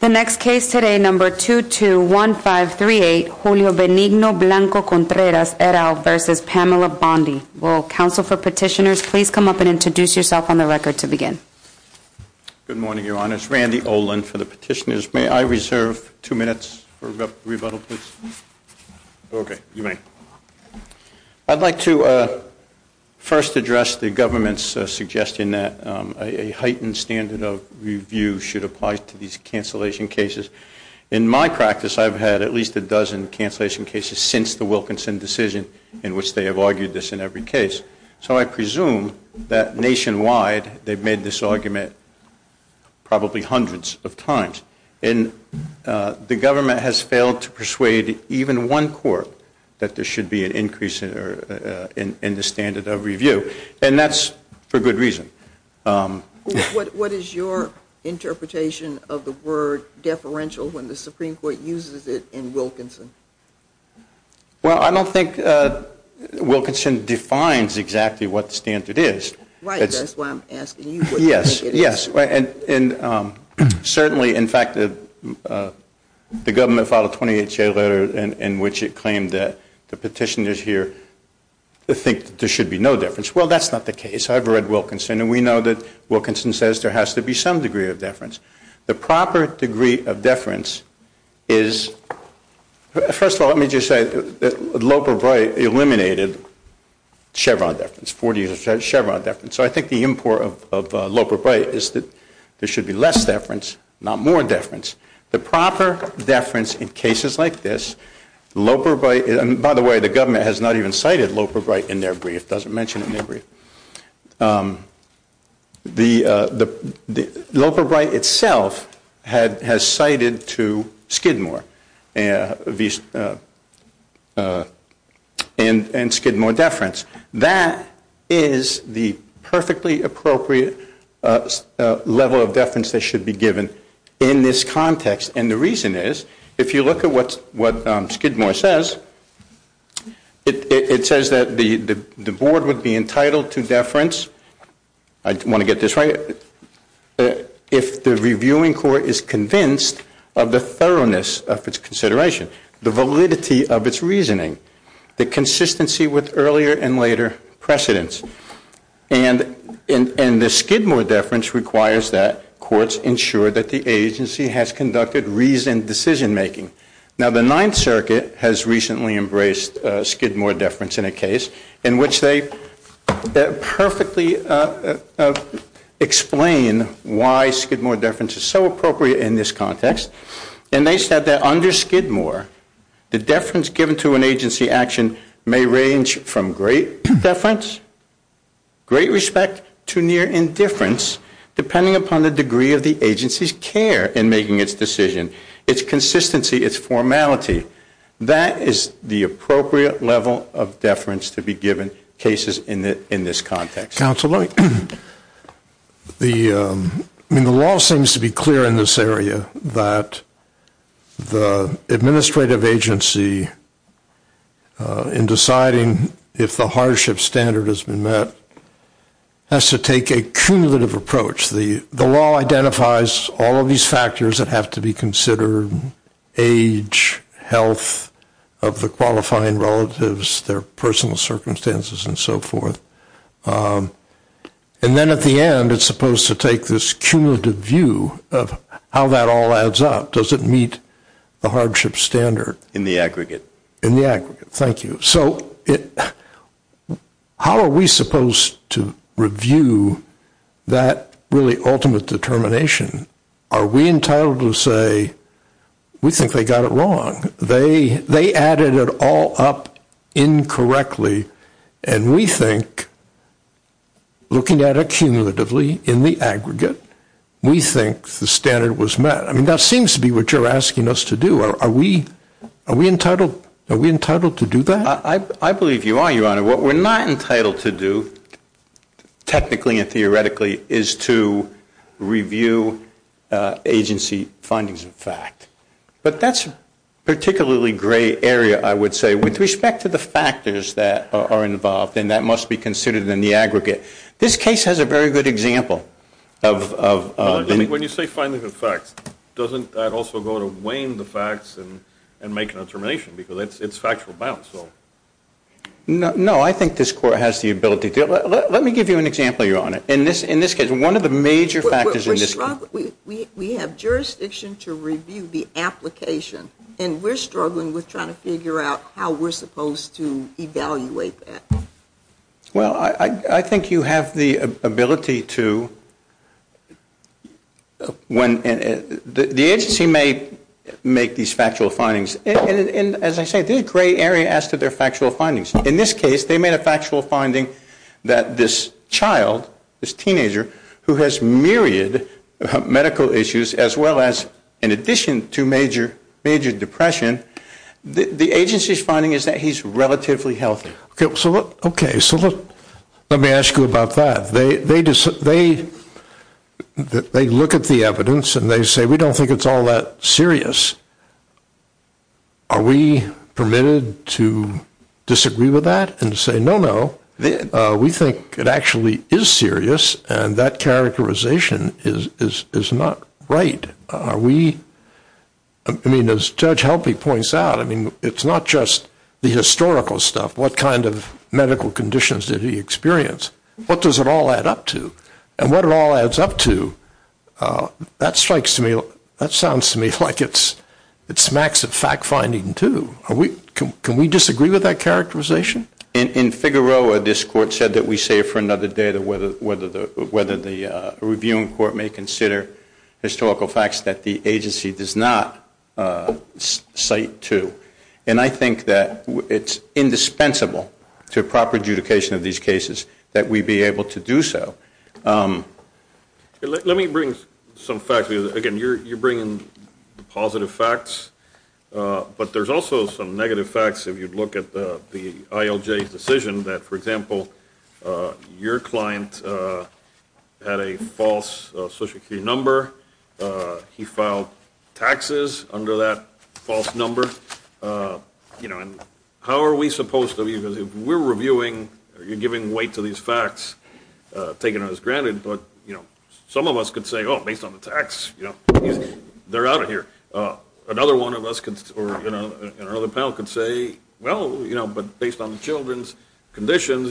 The next case today, number 221538, Julio Benigno Blanco Contreras, et al., v. Pamela Bondi. Will counsel for petitioners please come up and introduce yourself on the record to begin? Good morning, Your Honors. Randy Olin for the petitioners. May I reserve two minutes for rebuttal, please? Okay, you may. I'd like to first address the government's suggestion that a heightened standard of review should apply to these cancellation cases. In my practice, I've had at least a dozen cancellation cases since the Wilkinson decision in which they have argued this in every case. So I presume that nationwide they've made this argument probably hundreds of times. And the government has failed to persuade even one court that there should be an increase in the standard of review. And that's for good reason. What is your interpretation of the word deferential when the Supreme Court uses it in Wilkinson? Well, I don't think Wilkinson defines exactly what the standard is. Right, that's why I'm asking you what you think it is. Yes, yes. And certainly, in fact, the government filed a 28-J letter in which it claimed that the petitioners here think that there should be no difference. Well, that's not the case. I've read Wilkinson, and we know that Wilkinson says there has to be some degree of deference. The proper degree of deference is, first of all, let me just say that Loper Bright eliminated Chevron deference, 40% Chevron deference. So I think the import of Loper Bright is that there should be less deference, not more deference. The proper deference in cases like this, Loper Bright, and by the way, the government has not even cited Loper Bright in their brief, doesn't mention it in their brief. Loper Bright itself has cited to Skidmore and Skidmore deference. That is the perfectly appropriate level of deference that should be given in this context, and the reason is, if you look at what Skidmore says, it says that the board would be entitled to deference, I want to get this right, if the reviewing court is convinced of the thoroughness of its consideration, the validity of its reasoning, the consistency with earlier and later precedents. And the Skidmore deference requires that courts ensure that the agency has conducted reasoned decision-making. Now, the Ninth Circuit has recently embraced Skidmore deference in a case in which they perfectly explain why Skidmore deference is so appropriate in this context, and they said that under Skidmore, the deference given to an agency action may range from great deference, great respect to near indifference, depending upon the degree of the agency's care in making its decision, its consistency, its formality. That is the appropriate level of deference to be given cases in this context. Mr. Counsel, I mean, the law seems to be clear in this area that the administrative agency, in deciding if the hardship standard has been met, has to take a cumulative approach. The law identifies all of these factors that have to be considered, age, health of the qualifying relatives, their personal circumstances, and so forth. And then at the end, it's supposed to take this cumulative view of how that all adds up. Does it meet the hardship standard? In the aggregate. In the aggregate. Thank you. So how are we supposed to review that really ultimate determination? Are we entitled to say, we think they got it wrong? They added it all up incorrectly. And we think, looking at it cumulatively in the aggregate, we think the standard was met. I mean, that seems to be what you're asking us to do. Are we entitled to do that? I believe you are, Your Honor. What we're not entitled to do, technically and theoretically, is to review agency findings and fact. But that's a particularly gray area, I would say, with respect to the factors that are involved, and that must be considered in the aggregate. This case has a very good example. When you say findings and facts, doesn't that also go to weighing the facts and making a determination? Because it's factual bounds. No, I think this Court has the ability to. Let me give you an example, Your Honor. In this case, one of the major factors in this case. We have jurisdiction to review the application, and we're struggling with trying to figure out how we're supposed to evaluate that. Well, I think you have the ability to. The agency may make these factual findings. And, as I say, this is a gray area as to their factual findings. In this case, they made a factual finding that this child, this teenager, who has myriad medical issues as well as, in addition to major depression, the agency's finding is that he's relatively healthy. Okay, so let me ask you about that. They look at the evidence and they say, we don't think it's all that serious. Are we permitted to disagree with that and say, no, no, we think it actually is serious and that characterization is not right? Are we, I mean, as Judge Helping points out, I mean, it's not just the historical stuff. What kind of medical conditions did he experience? What does it all add up to? And what it all adds up to, that strikes to me, that sounds to me like it smacks at fact-finding too. Can we disagree with that characterization? In Figueroa, this court said that we save for another day whether the reviewing court may consider historical facts that the agency does not cite to. And I think that it's indispensable to proper adjudication of these cases that we be able to do so. Let me bring some facts. Again, you're bringing positive facts, but there's also some negative facts. If you look at the ILJ's decision that, for example, your client had a false social security number. He filed taxes under that false number. How are we supposed to, because if we're reviewing, you're giving weight to these facts taken as granted, but some of us could say, oh, based on the tax, they're out of here. Another one of us or another panel could say, well, but based on the children's conditions,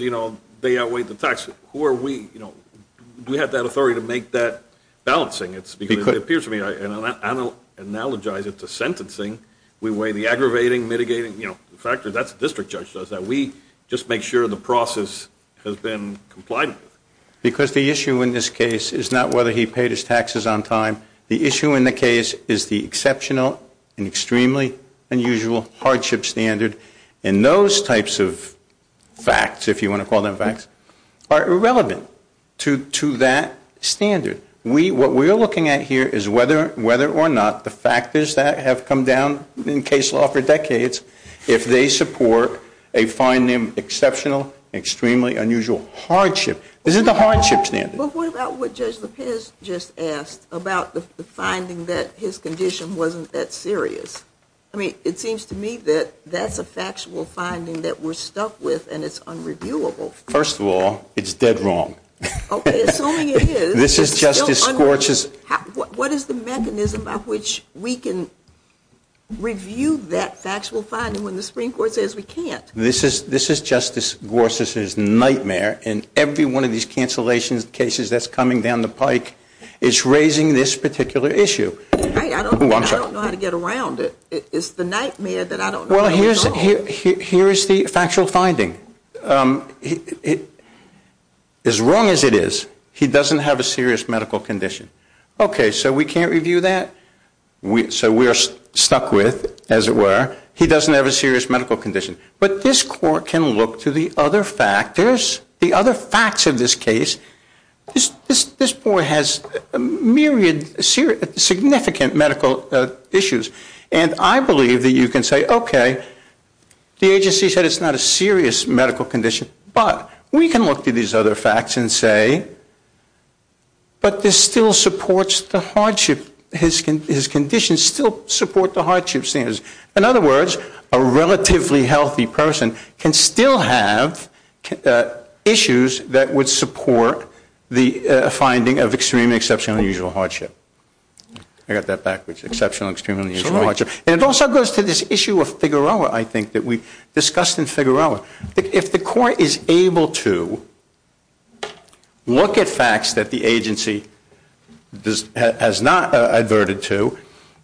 they outweigh the tax. Who are we? Do we have that authority to make that balancing? Because the issue in this case is not whether he paid his taxes on time. The issue in the case is the exceptional and extremely unusual hardship standard, and those types of facts, if you want to call them facts, are irrelevant to that standard. What we're looking for is a balance. What we're looking at here is whether or not the factors that have come down in case law for decades, if they support a finding exceptional, extremely unusual hardship. This is the hardship standard. But what about what Judge Lopez just asked about the finding that his condition wasn't that serious? I mean, it seems to me that that's a factual finding that we're stuck with, and it's unreviewable. First of all, it's dead wrong. Okay, assuming it is. This is Justice Gorsuch's. What is the mechanism by which we can review that factual finding when the Supreme Court says we can't? This is Justice Gorsuch's nightmare, and every one of these cancellations cases that's coming down the pike is raising this particular issue. I don't know how to get around it. It's the nightmare that I don't know how to resolve. Well, here is the factual finding. As wrong as it is, he doesn't have a serious medical condition. Okay, so we can't review that? So we are stuck with, as it were, he doesn't have a serious medical condition. But this Court can look to the other factors, the other facts of this case. This boy has myriad significant medical issues, and I believe that you can say, okay, the agency said it's not a serious medical condition. But we can look to these other facts and say, but this still supports the hardship. His conditions still support the hardship standards. In other words, a relatively healthy person can still have issues that would support the finding of extreme, exceptional, unusual hardship. I got that backwards, exceptional, exceptional, unusual hardship. And it also goes to this issue of Figueroa, I think, that we discussed in Figueroa. If the Court is able to look at facts that the agency has not adverted to,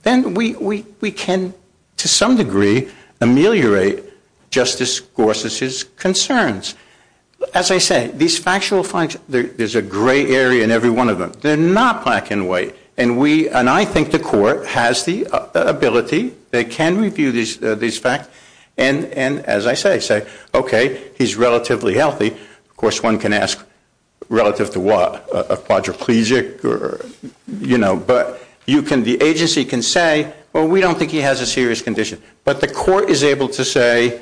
then we can, to some degree, ameliorate Justice Gorsuch's concerns. As I say, these factual finds, there's a gray area in every one of them. They're not black and white, and I think the Court has the ability, they can review these facts, and as I say, say, okay, he's relatively healthy. Of course, one can ask, relative to what, a quadriplegic? But the agency can say, well, we don't think he has a serious condition. But the Court is able to say,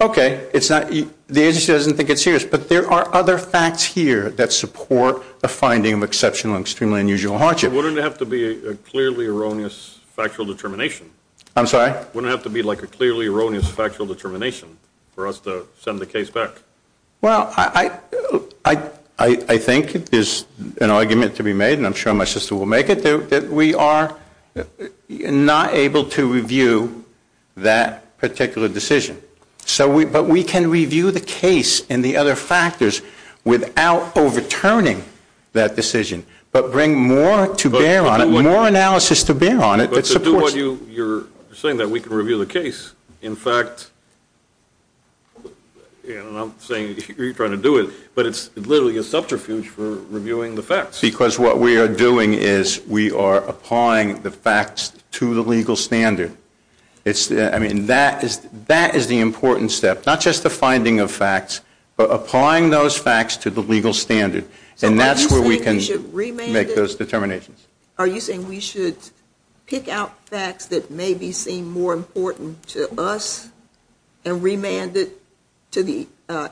okay, the agency doesn't think it's serious. But there are other facts here that support the finding of exceptional and extremely unusual hardship. Wouldn't it have to be a clearly erroneous factual determination? I'm sorry? Wouldn't it have to be like a clearly erroneous factual determination for us to send the case back? Well, I think there's an argument to be made, and I'm sure my sister will make it, that we are not able to review that particular decision. But we can review the case and the other factors without overturning that decision, but bring more to bear on it, more analysis to bear on it. But to do what you're saying, that we can review the case, in fact, and I'm saying you're trying to do it, but it's literally a subterfuge for reviewing the facts. Because what we are doing is we are applying the facts to the legal standard. I mean, that is the important step, not just the finding of facts, but applying those facts to the legal standard. And that's where we can make those determinations. Are you saying we should pick out facts that maybe seem more important to us and remand it to the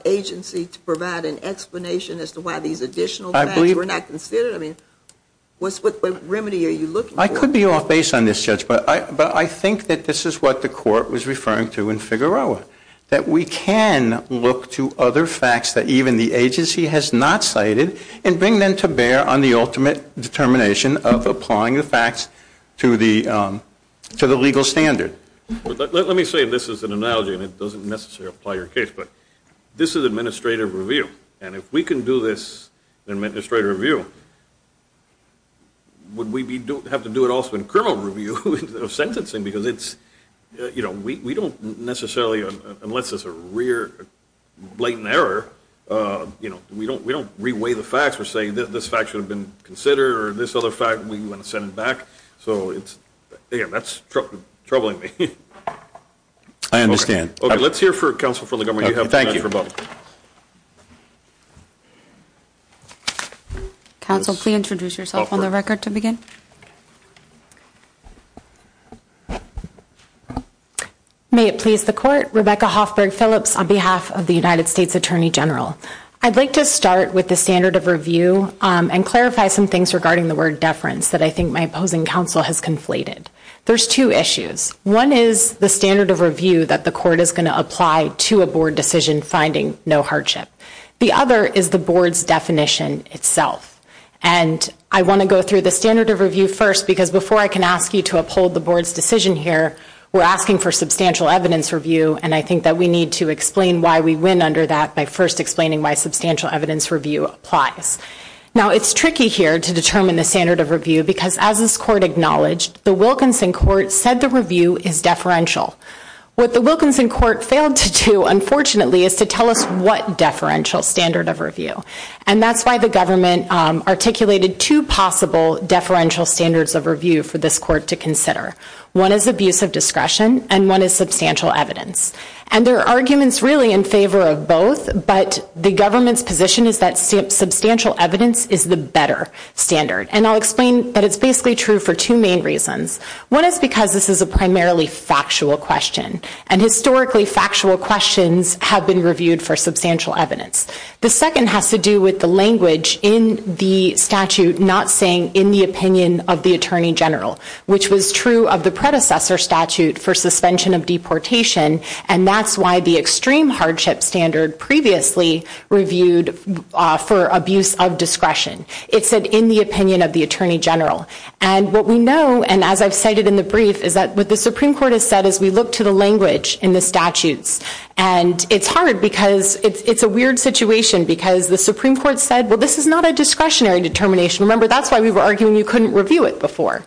agency to provide an explanation as to why these additional facts were not considered? I mean, what remedy are you looking for? I could be off base on this, Judge, but I think that this is what the Court was referring to in Figueroa, that we can look to other facts that even the agency has not cited and bring them to bear on the ultimate determination of applying the facts to the legal standard. Let me say this as an analogy, and it doesn't necessarily apply to your case, but this is administrative review, and if we can do this in administrative review, would we have to do it also in criminal review of sentencing? Because we don't necessarily, unless it's a rear, blatant error, we don't re-weigh the facts and say this fact should have been considered or this other fact we want to send it back. So, again, that's troubling me. I understand. Okay, let's hear counsel from the government. Thank you. Thank you for voting. Counsel, please introduce yourself on the record to begin. May it please the Court. Rebecca Hoffberg Phillips on behalf of the United States Attorney General. I'd like to start with the standard of review and clarify some things regarding the word deference that I think my opposing counsel has conflated. There's two issues. One is the standard of review that the Court is going to apply to a Board decision finding no hardship. The other is the Board's definition itself, and I want to go through the standard of review first because before I can ask you to uphold the Board's decision here, we're asking for substantial evidence review, and I think that we need to explain why we win under that by first explaining why substantial evidence review applies. Now, it's tricky here to determine the standard of review because as this Court acknowledged, the Wilkinson Court said the review is deferential. What the Wilkinson Court failed to do, unfortunately, is to tell us what deferential standard of review, and that's why the government articulated two possible deferential standards of review for this Court to consider. One is abuse of discretion, and one is substantial evidence, and there are arguments really in favor of both, but the government's position is that substantial evidence is the better standard, and I'll explain that it's basically true for two main reasons. One is because this is a primarily factual question, and historically factual questions have been reviewed for substantial evidence. The second has to do with the language in the statute not saying in the opinion of the Attorney General, which was true of the predecessor statute for suspension of deportation, and that's why the extreme hardship standard previously reviewed for abuse of discretion. It said in the opinion of the Attorney General, and what we know, and as I've cited in the brief, is that what the Supreme Court has said is we look to the language in the statutes, and it's hard because it's a weird situation because the Supreme Court said, well, this is not a discretionary determination. Remember, that's why we were arguing you couldn't review it before,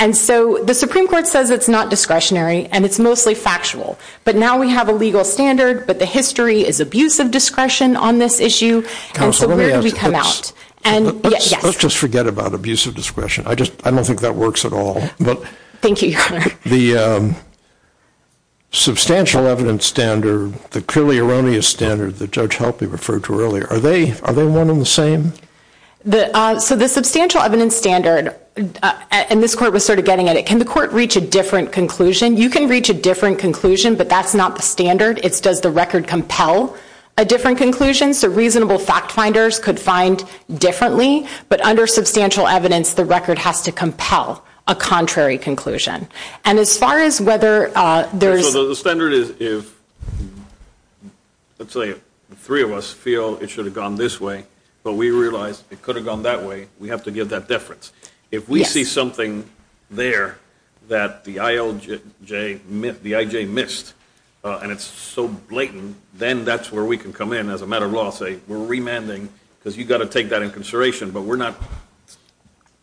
and so the Supreme Court says it's not discretionary, and it's mostly factual, but now we have a legal standard, but the history is abuse of discretion on this issue, and so where do we come out? Let's just forget about abuse of discretion. I don't think that works at all. Thank you, Your Honor. The substantial evidence standard, the clearly erroneous standard that Judge Helpe referred to earlier, are they one and the same? So the substantial evidence standard, and this Court was sort of getting at it, can the Court reach a different conclusion? You can reach a different conclusion, but that's not the standard. It's does the record compel a different conclusion? So reasonable fact finders could find differently, but under substantial evidence, the record has to compel a contrary conclusion. And as far as whether there's – So the standard is if, let's say, three of us feel it should have gone this way, but we realize it could have gone that way, we have to give that deference. If we see something there that the IJ missed and it's so blatant, then that's where we can come in as a matter of law and say we're remanding because you've got to take that into consideration, but we're not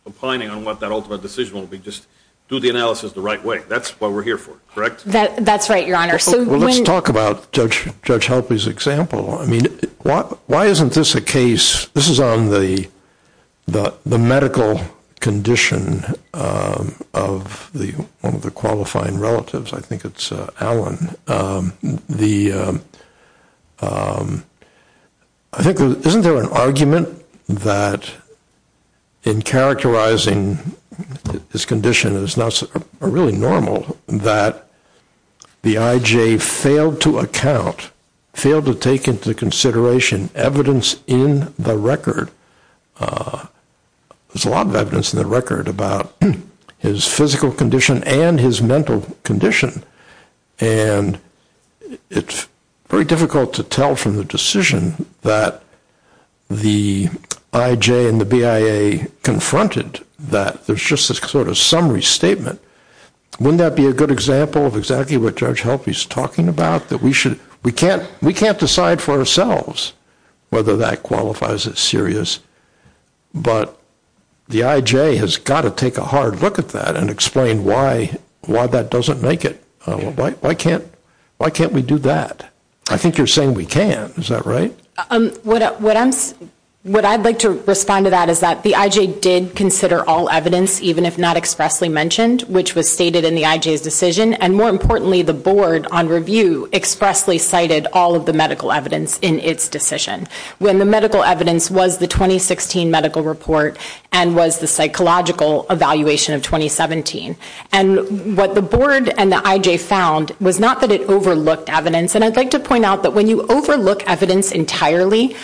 opining on what that ultimate decision will be. Just do the analysis the right way. That's what we're here for, correct? That's right, Your Honor. Let's talk about Judge Helpe's example. I mean, why isn't this a case – this is on the medical condition of one of the qualifying relatives. I think it's Alan. Isn't there an argument that in characterizing his condition, it's not really normal that the IJ failed to account, failed to take into consideration evidence in the record. There's a lot of evidence in the record about his physical condition and his mental condition, and it's very difficult to tell from the decision that the IJ and the BIA confronted that there's just this sort of summary statement. Wouldn't that be a good example of exactly what Judge Helpe is talking about? We can't decide for ourselves whether that qualifies as serious, but the IJ has got to take a hard look at that and explain why that doesn't make it. Why can't we do that? I think you're saying we can. Is that right? What I'd like to respond to that is that the IJ did consider all evidence, even if not expressly mentioned, which was stated in the IJ's decision, and more importantly, the board on review expressly cited all of the medical evidence in its decision. When the medical evidence was the 2016 medical report and was the psychological evaluation of 2017. And what the board and the IJ found was not that it overlooked evidence, and I'd like to point out that when you overlook evidence entirely,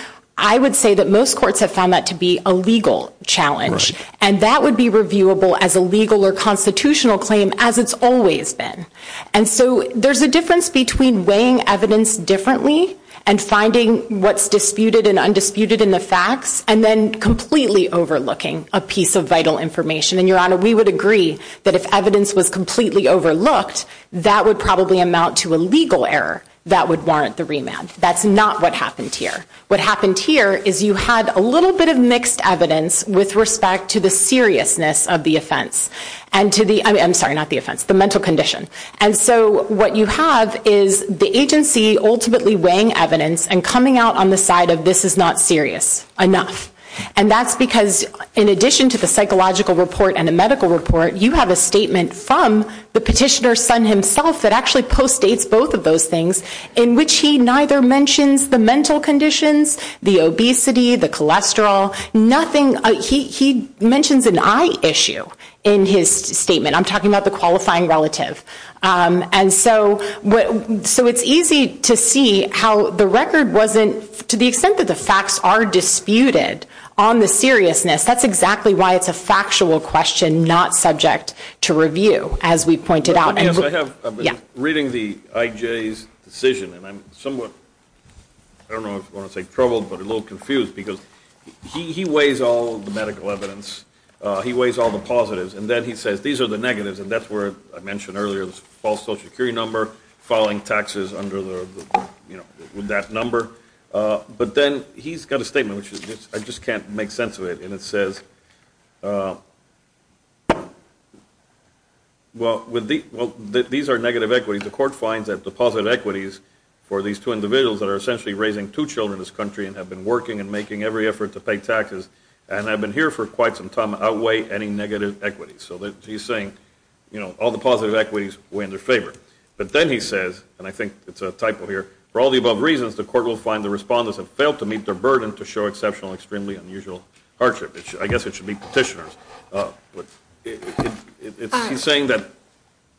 I would say that most courts have found that to be a legal challenge, and that would be reviewable as a legal or constitutional claim, as it's always been. And so there's a difference between weighing evidence differently and finding what's disputed and undisputed in the facts, and then completely overlooking a piece of vital information. And, Your Honor, we would agree that if evidence was completely overlooked, that would probably amount to a legal error that would warrant the remand. That's not what happened here. What happened here is you had a little bit of mixed evidence with respect to the seriousness of the offense, and to the, I'm sorry, not the offense, the mental condition. And so what you have is the agency ultimately weighing evidence and coming out on the side of this is not serious enough. And that's because, in addition to the psychological report and the medical report, you have a statement from the petitioner's son himself that actually postdates both of those things, in which he neither mentions the mental conditions, the obesity, the cholesterol, nothing. He mentions an eye issue in his statement. I'm talking about the qualifying relative. And so it's easy to see how the record wasn't, to the extent that the facts are disputed on the seriousness, that's exactly why it's a factual question not subject to review, as we pointed out. Yes, I have been reading the IJ's decision, and I'm somewhat, I don't know if you want to say troubled, but a little confused because he weighs all the medical evidence. He weighs all the positives. And then he says, these are the negatives, and that's where I mentioned earlier this false social security number, filing taxes under that number. But then he's got a statement, which I just can't make sense of it, and it says, well, these are negative equities. The court finds that the positive equities for these two individuals that are essentially raising two children in this country and have been working and making every effort to pay taxes and have been here for quite some time outweigh any negative equities. So he's saying, you know, all the positive equities weigh in their favor. But then he says, and I think it's a typo here, for all the above reasons the court will find the respondents have failed to meet their burden to show exceptional, extremely unusual hardship. I guess it should be petitioners. He's saying that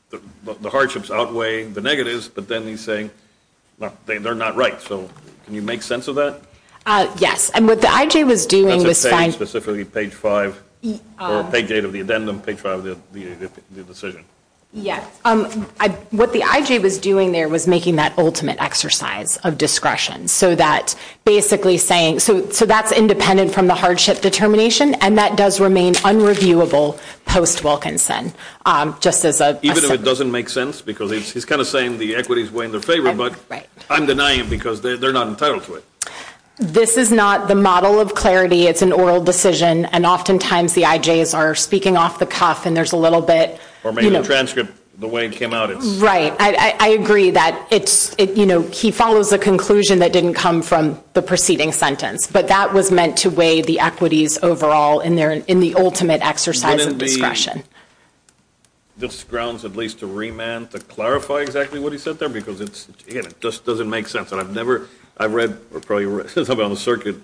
the hardships outweigh the negatives, but then he's saying they're not right. So can you make sense of that? Yes. And what the IJ was doing was finding – That's a page, specifically page five, or page eight of the addendum, page five of the decision. Yes. What the IJ was doing there was making that ultimate exercise of discretion, so that basically saying – so that's independent from the hardship determination, and that does remain unreviewable post-Wilkinson, just as a – Even if it doesn't make sense, because he's kind of saying the equities weigh in their favor, but I'm denying it because they're not entitled to it. This is not the model of clarity. It's an oral decision, and oftentimes the IJs are speaking off the cuff, and there's a little bit – Or maybe the transcript, the way it came out, it's – Right. I agree that it's – he follows a conclusion that didn't come from the preceding sentence, but that was meant to weigh the equities overall in the ultimate exercise of discretion. Wouldn't it be – this grounds at least a remand to clarify exactly what he said there, because it's – again, it just doesn't make sense. And I've never – I've read or probably read – somebody on the circuit,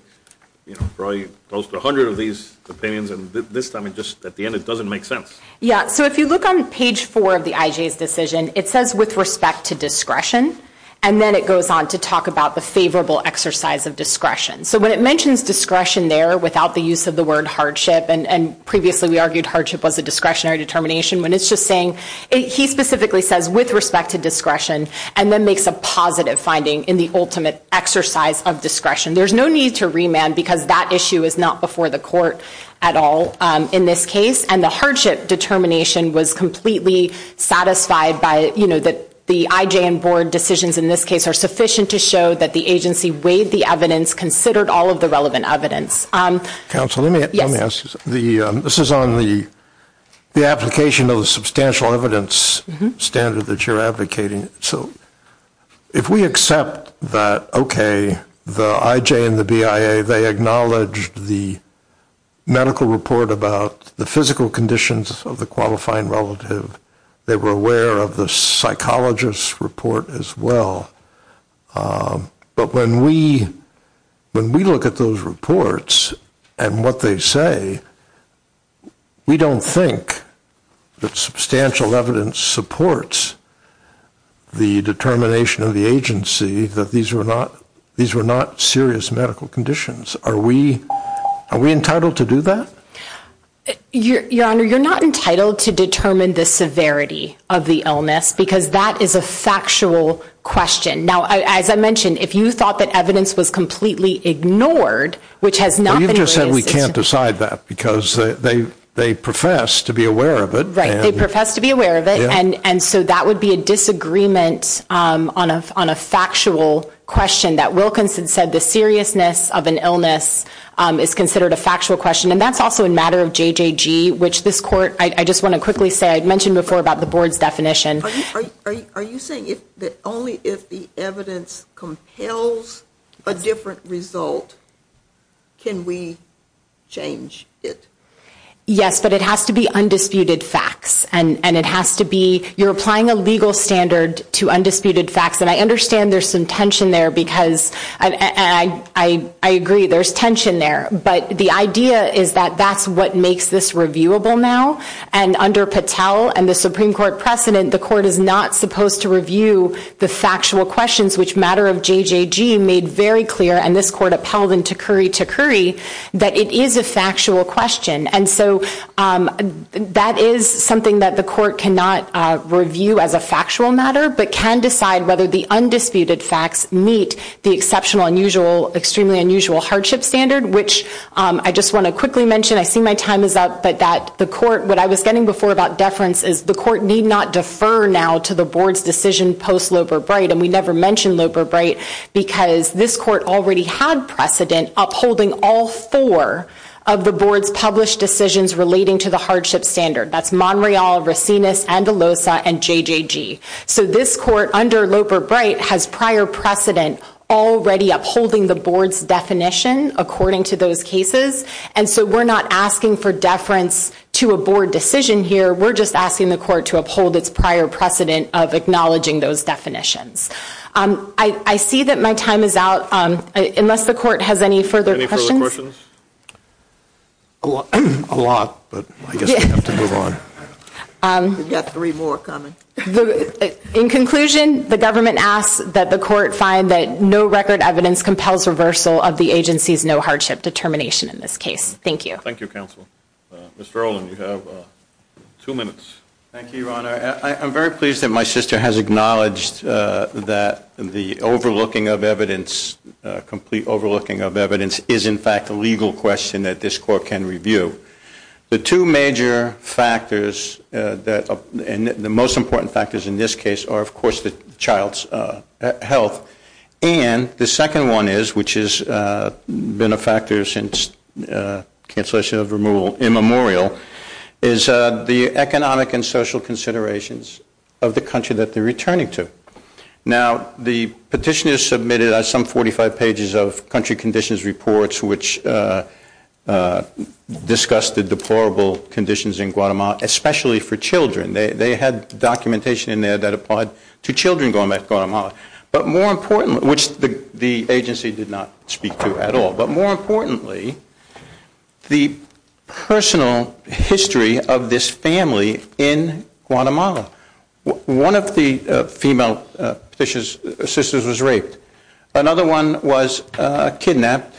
you know, probably close to 100 of these opinions, and this time it just – at the end it doesn't make sense. Yeah. So if you look on page 4 of the IJ's decision, it says with respect to discretion, and then it goes on to talk about the favorable exercise of discretion. So when it mentions discretion there without the use of the word hardship, and previously we argued hardship was a discretionary determination, when it's just saying – he specifically says with respect to discretion and then makes a positive finding in the ultimate exercise of discretion. There's no need to remand because that issue is not before the court at all in this case, and the hardship determination was completely satisfied by, you know, the IJ and board decisions in this case are sufficient to show that the agency weighed the evidence, considered all of the relevant evidence. Counsel, let me ask you something. Yes. This is on the application of the substantial evidence standard that you're advocating. So if we accept that, okay, the IJ and the BIA, they acknowledged the medical report about the physical conditions of the qualifying relative, they were aware of the psychologist's report as well, but when we look at those reports and what they say, we don't think that substantial evidence supports the determination of the agency that these were not serious medical conditions. Are we entitled to do that? Your Honor, you're not entitled to determine the severity of the illness because that is a factual question. Now, as I mentioned, if you thought that evidence was completely ignored, which has not been ignored. Well, you just said we can't decide that because they profess to be aware of it. Right. They profess to be aware of it, and so that would be a disagreement on a factual question that Wilkinson said the seriousness of an illness is considered a factual question, and that's also a matter of JJG, which this court, I just want to quickly say, I mentioned before about the board's definition. Are you saying that only if the evidence compels a different result can we change it? Yes, but it has to be undisputed facts, and it has to be, you're applying a legal standard to undisputed facts, and I understand there's some tension there because, and I agree, there's tension there, but the idea is that that's what makes this reviewable now, and under Patel and the Supreme Court precedent, the court is not supposed to review the factual questions, which matter of JJG made very clear, and this court upheld in Takuri Takuri, that it is a factual question, and so that is something that the court cannot review as a factual matter, but can decide whether the undisputed facts meet the exceptional unusual, extremely unusual hardship standard, which I just want to quickly mention. I see my time is up, but that the court, what I was getting before about deference, is the court need not defer now to the board's decision post-Loper Bright, and we never mentioned Loper Bright because this court already had precedent upholding all four of the board's published decisions relating to the hardship standard. That's Monreal, Racines, Andalosa, and JJG, so this court under Loper Bright has prior precedent already upholding the board's definition according to those cases, and so we're not asking for deference to a board decision here, we're just asking the court to uphold its prior precedent of acknowledging those definitions. I see that my time is out, unless the court has any further questions? Any further questions? A lot, but I guess we have to move on. We've got three more coming. In conclusion, the government asks that the court find that no record evidence compels reversal of the agency's no hardship determination in this case. Thank you. Thank you, counsel. Mr. Olin, you have two minutes. Thank you, Your Honor. I'm very pleased that my sister has acknowledged that the overlooking of evidence, complete overlooking of evidence, is in fact a legal question that this court can review. The two major factors and the most important factors in this case are, of course, the child's health, and the second one is, which has been a factor since cancellation of removal immemorial, is the economic and social considerations of the country that they're returning to. Now, the petitioners submitted some 45 pages of country conditions reports, which discussed the deplorable conditions in Guatemala, especially for children. They had documentation in there that applied to children going back to Guatemala, which the agency did not speak to at all. But more importantly, the personal history of this family in Guatemala. One of the female petitioners' sisters was raped. Another one was kidnapped,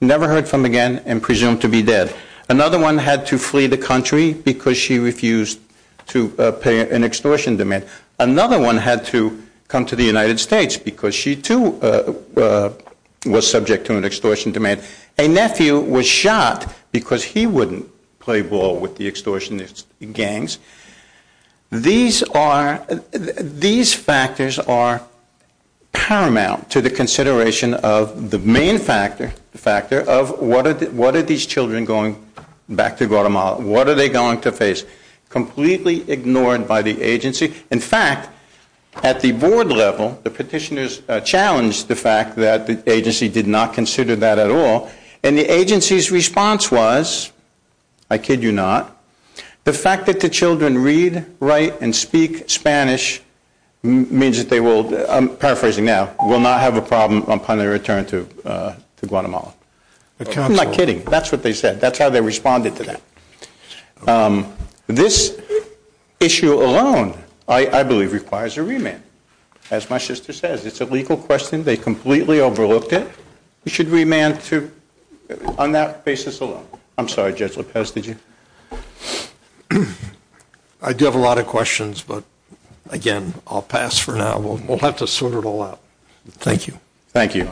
never heard from again, and presumed to be dead. Another one had to flee the country because she refused to pay an extortion demand. Another one had to come to the United States because she, too, was subject to an extortion demand. A nephew was shot because he wouldn't play ball with the extortionist gangs. These factors are paramount to the consideration of the main factor of what are these children going back to Guatemala, what are they going to face, completely ignored by the agency. In fact, at the board level, the petitioners challenged the fact that the agency did not consider that at all, and the agency's response was, I kid you not, the fact that the children read, write, and speak Spanish means that they will, I'm paraphrasing now, will not have a problem upon their return to Guatemala. I'm not kidding. That's what they said. That's how they responded to that. This issue alone, I believe, requires a remand. As my sister says, it's a legal question. They completely overlooked it. We should remand on that basis alone. I'm sorry, Judge Lopez, did you? I do have a lot of questions, but again, I'll pass for now. We'll have to sort it all out. Thank you. Thank you.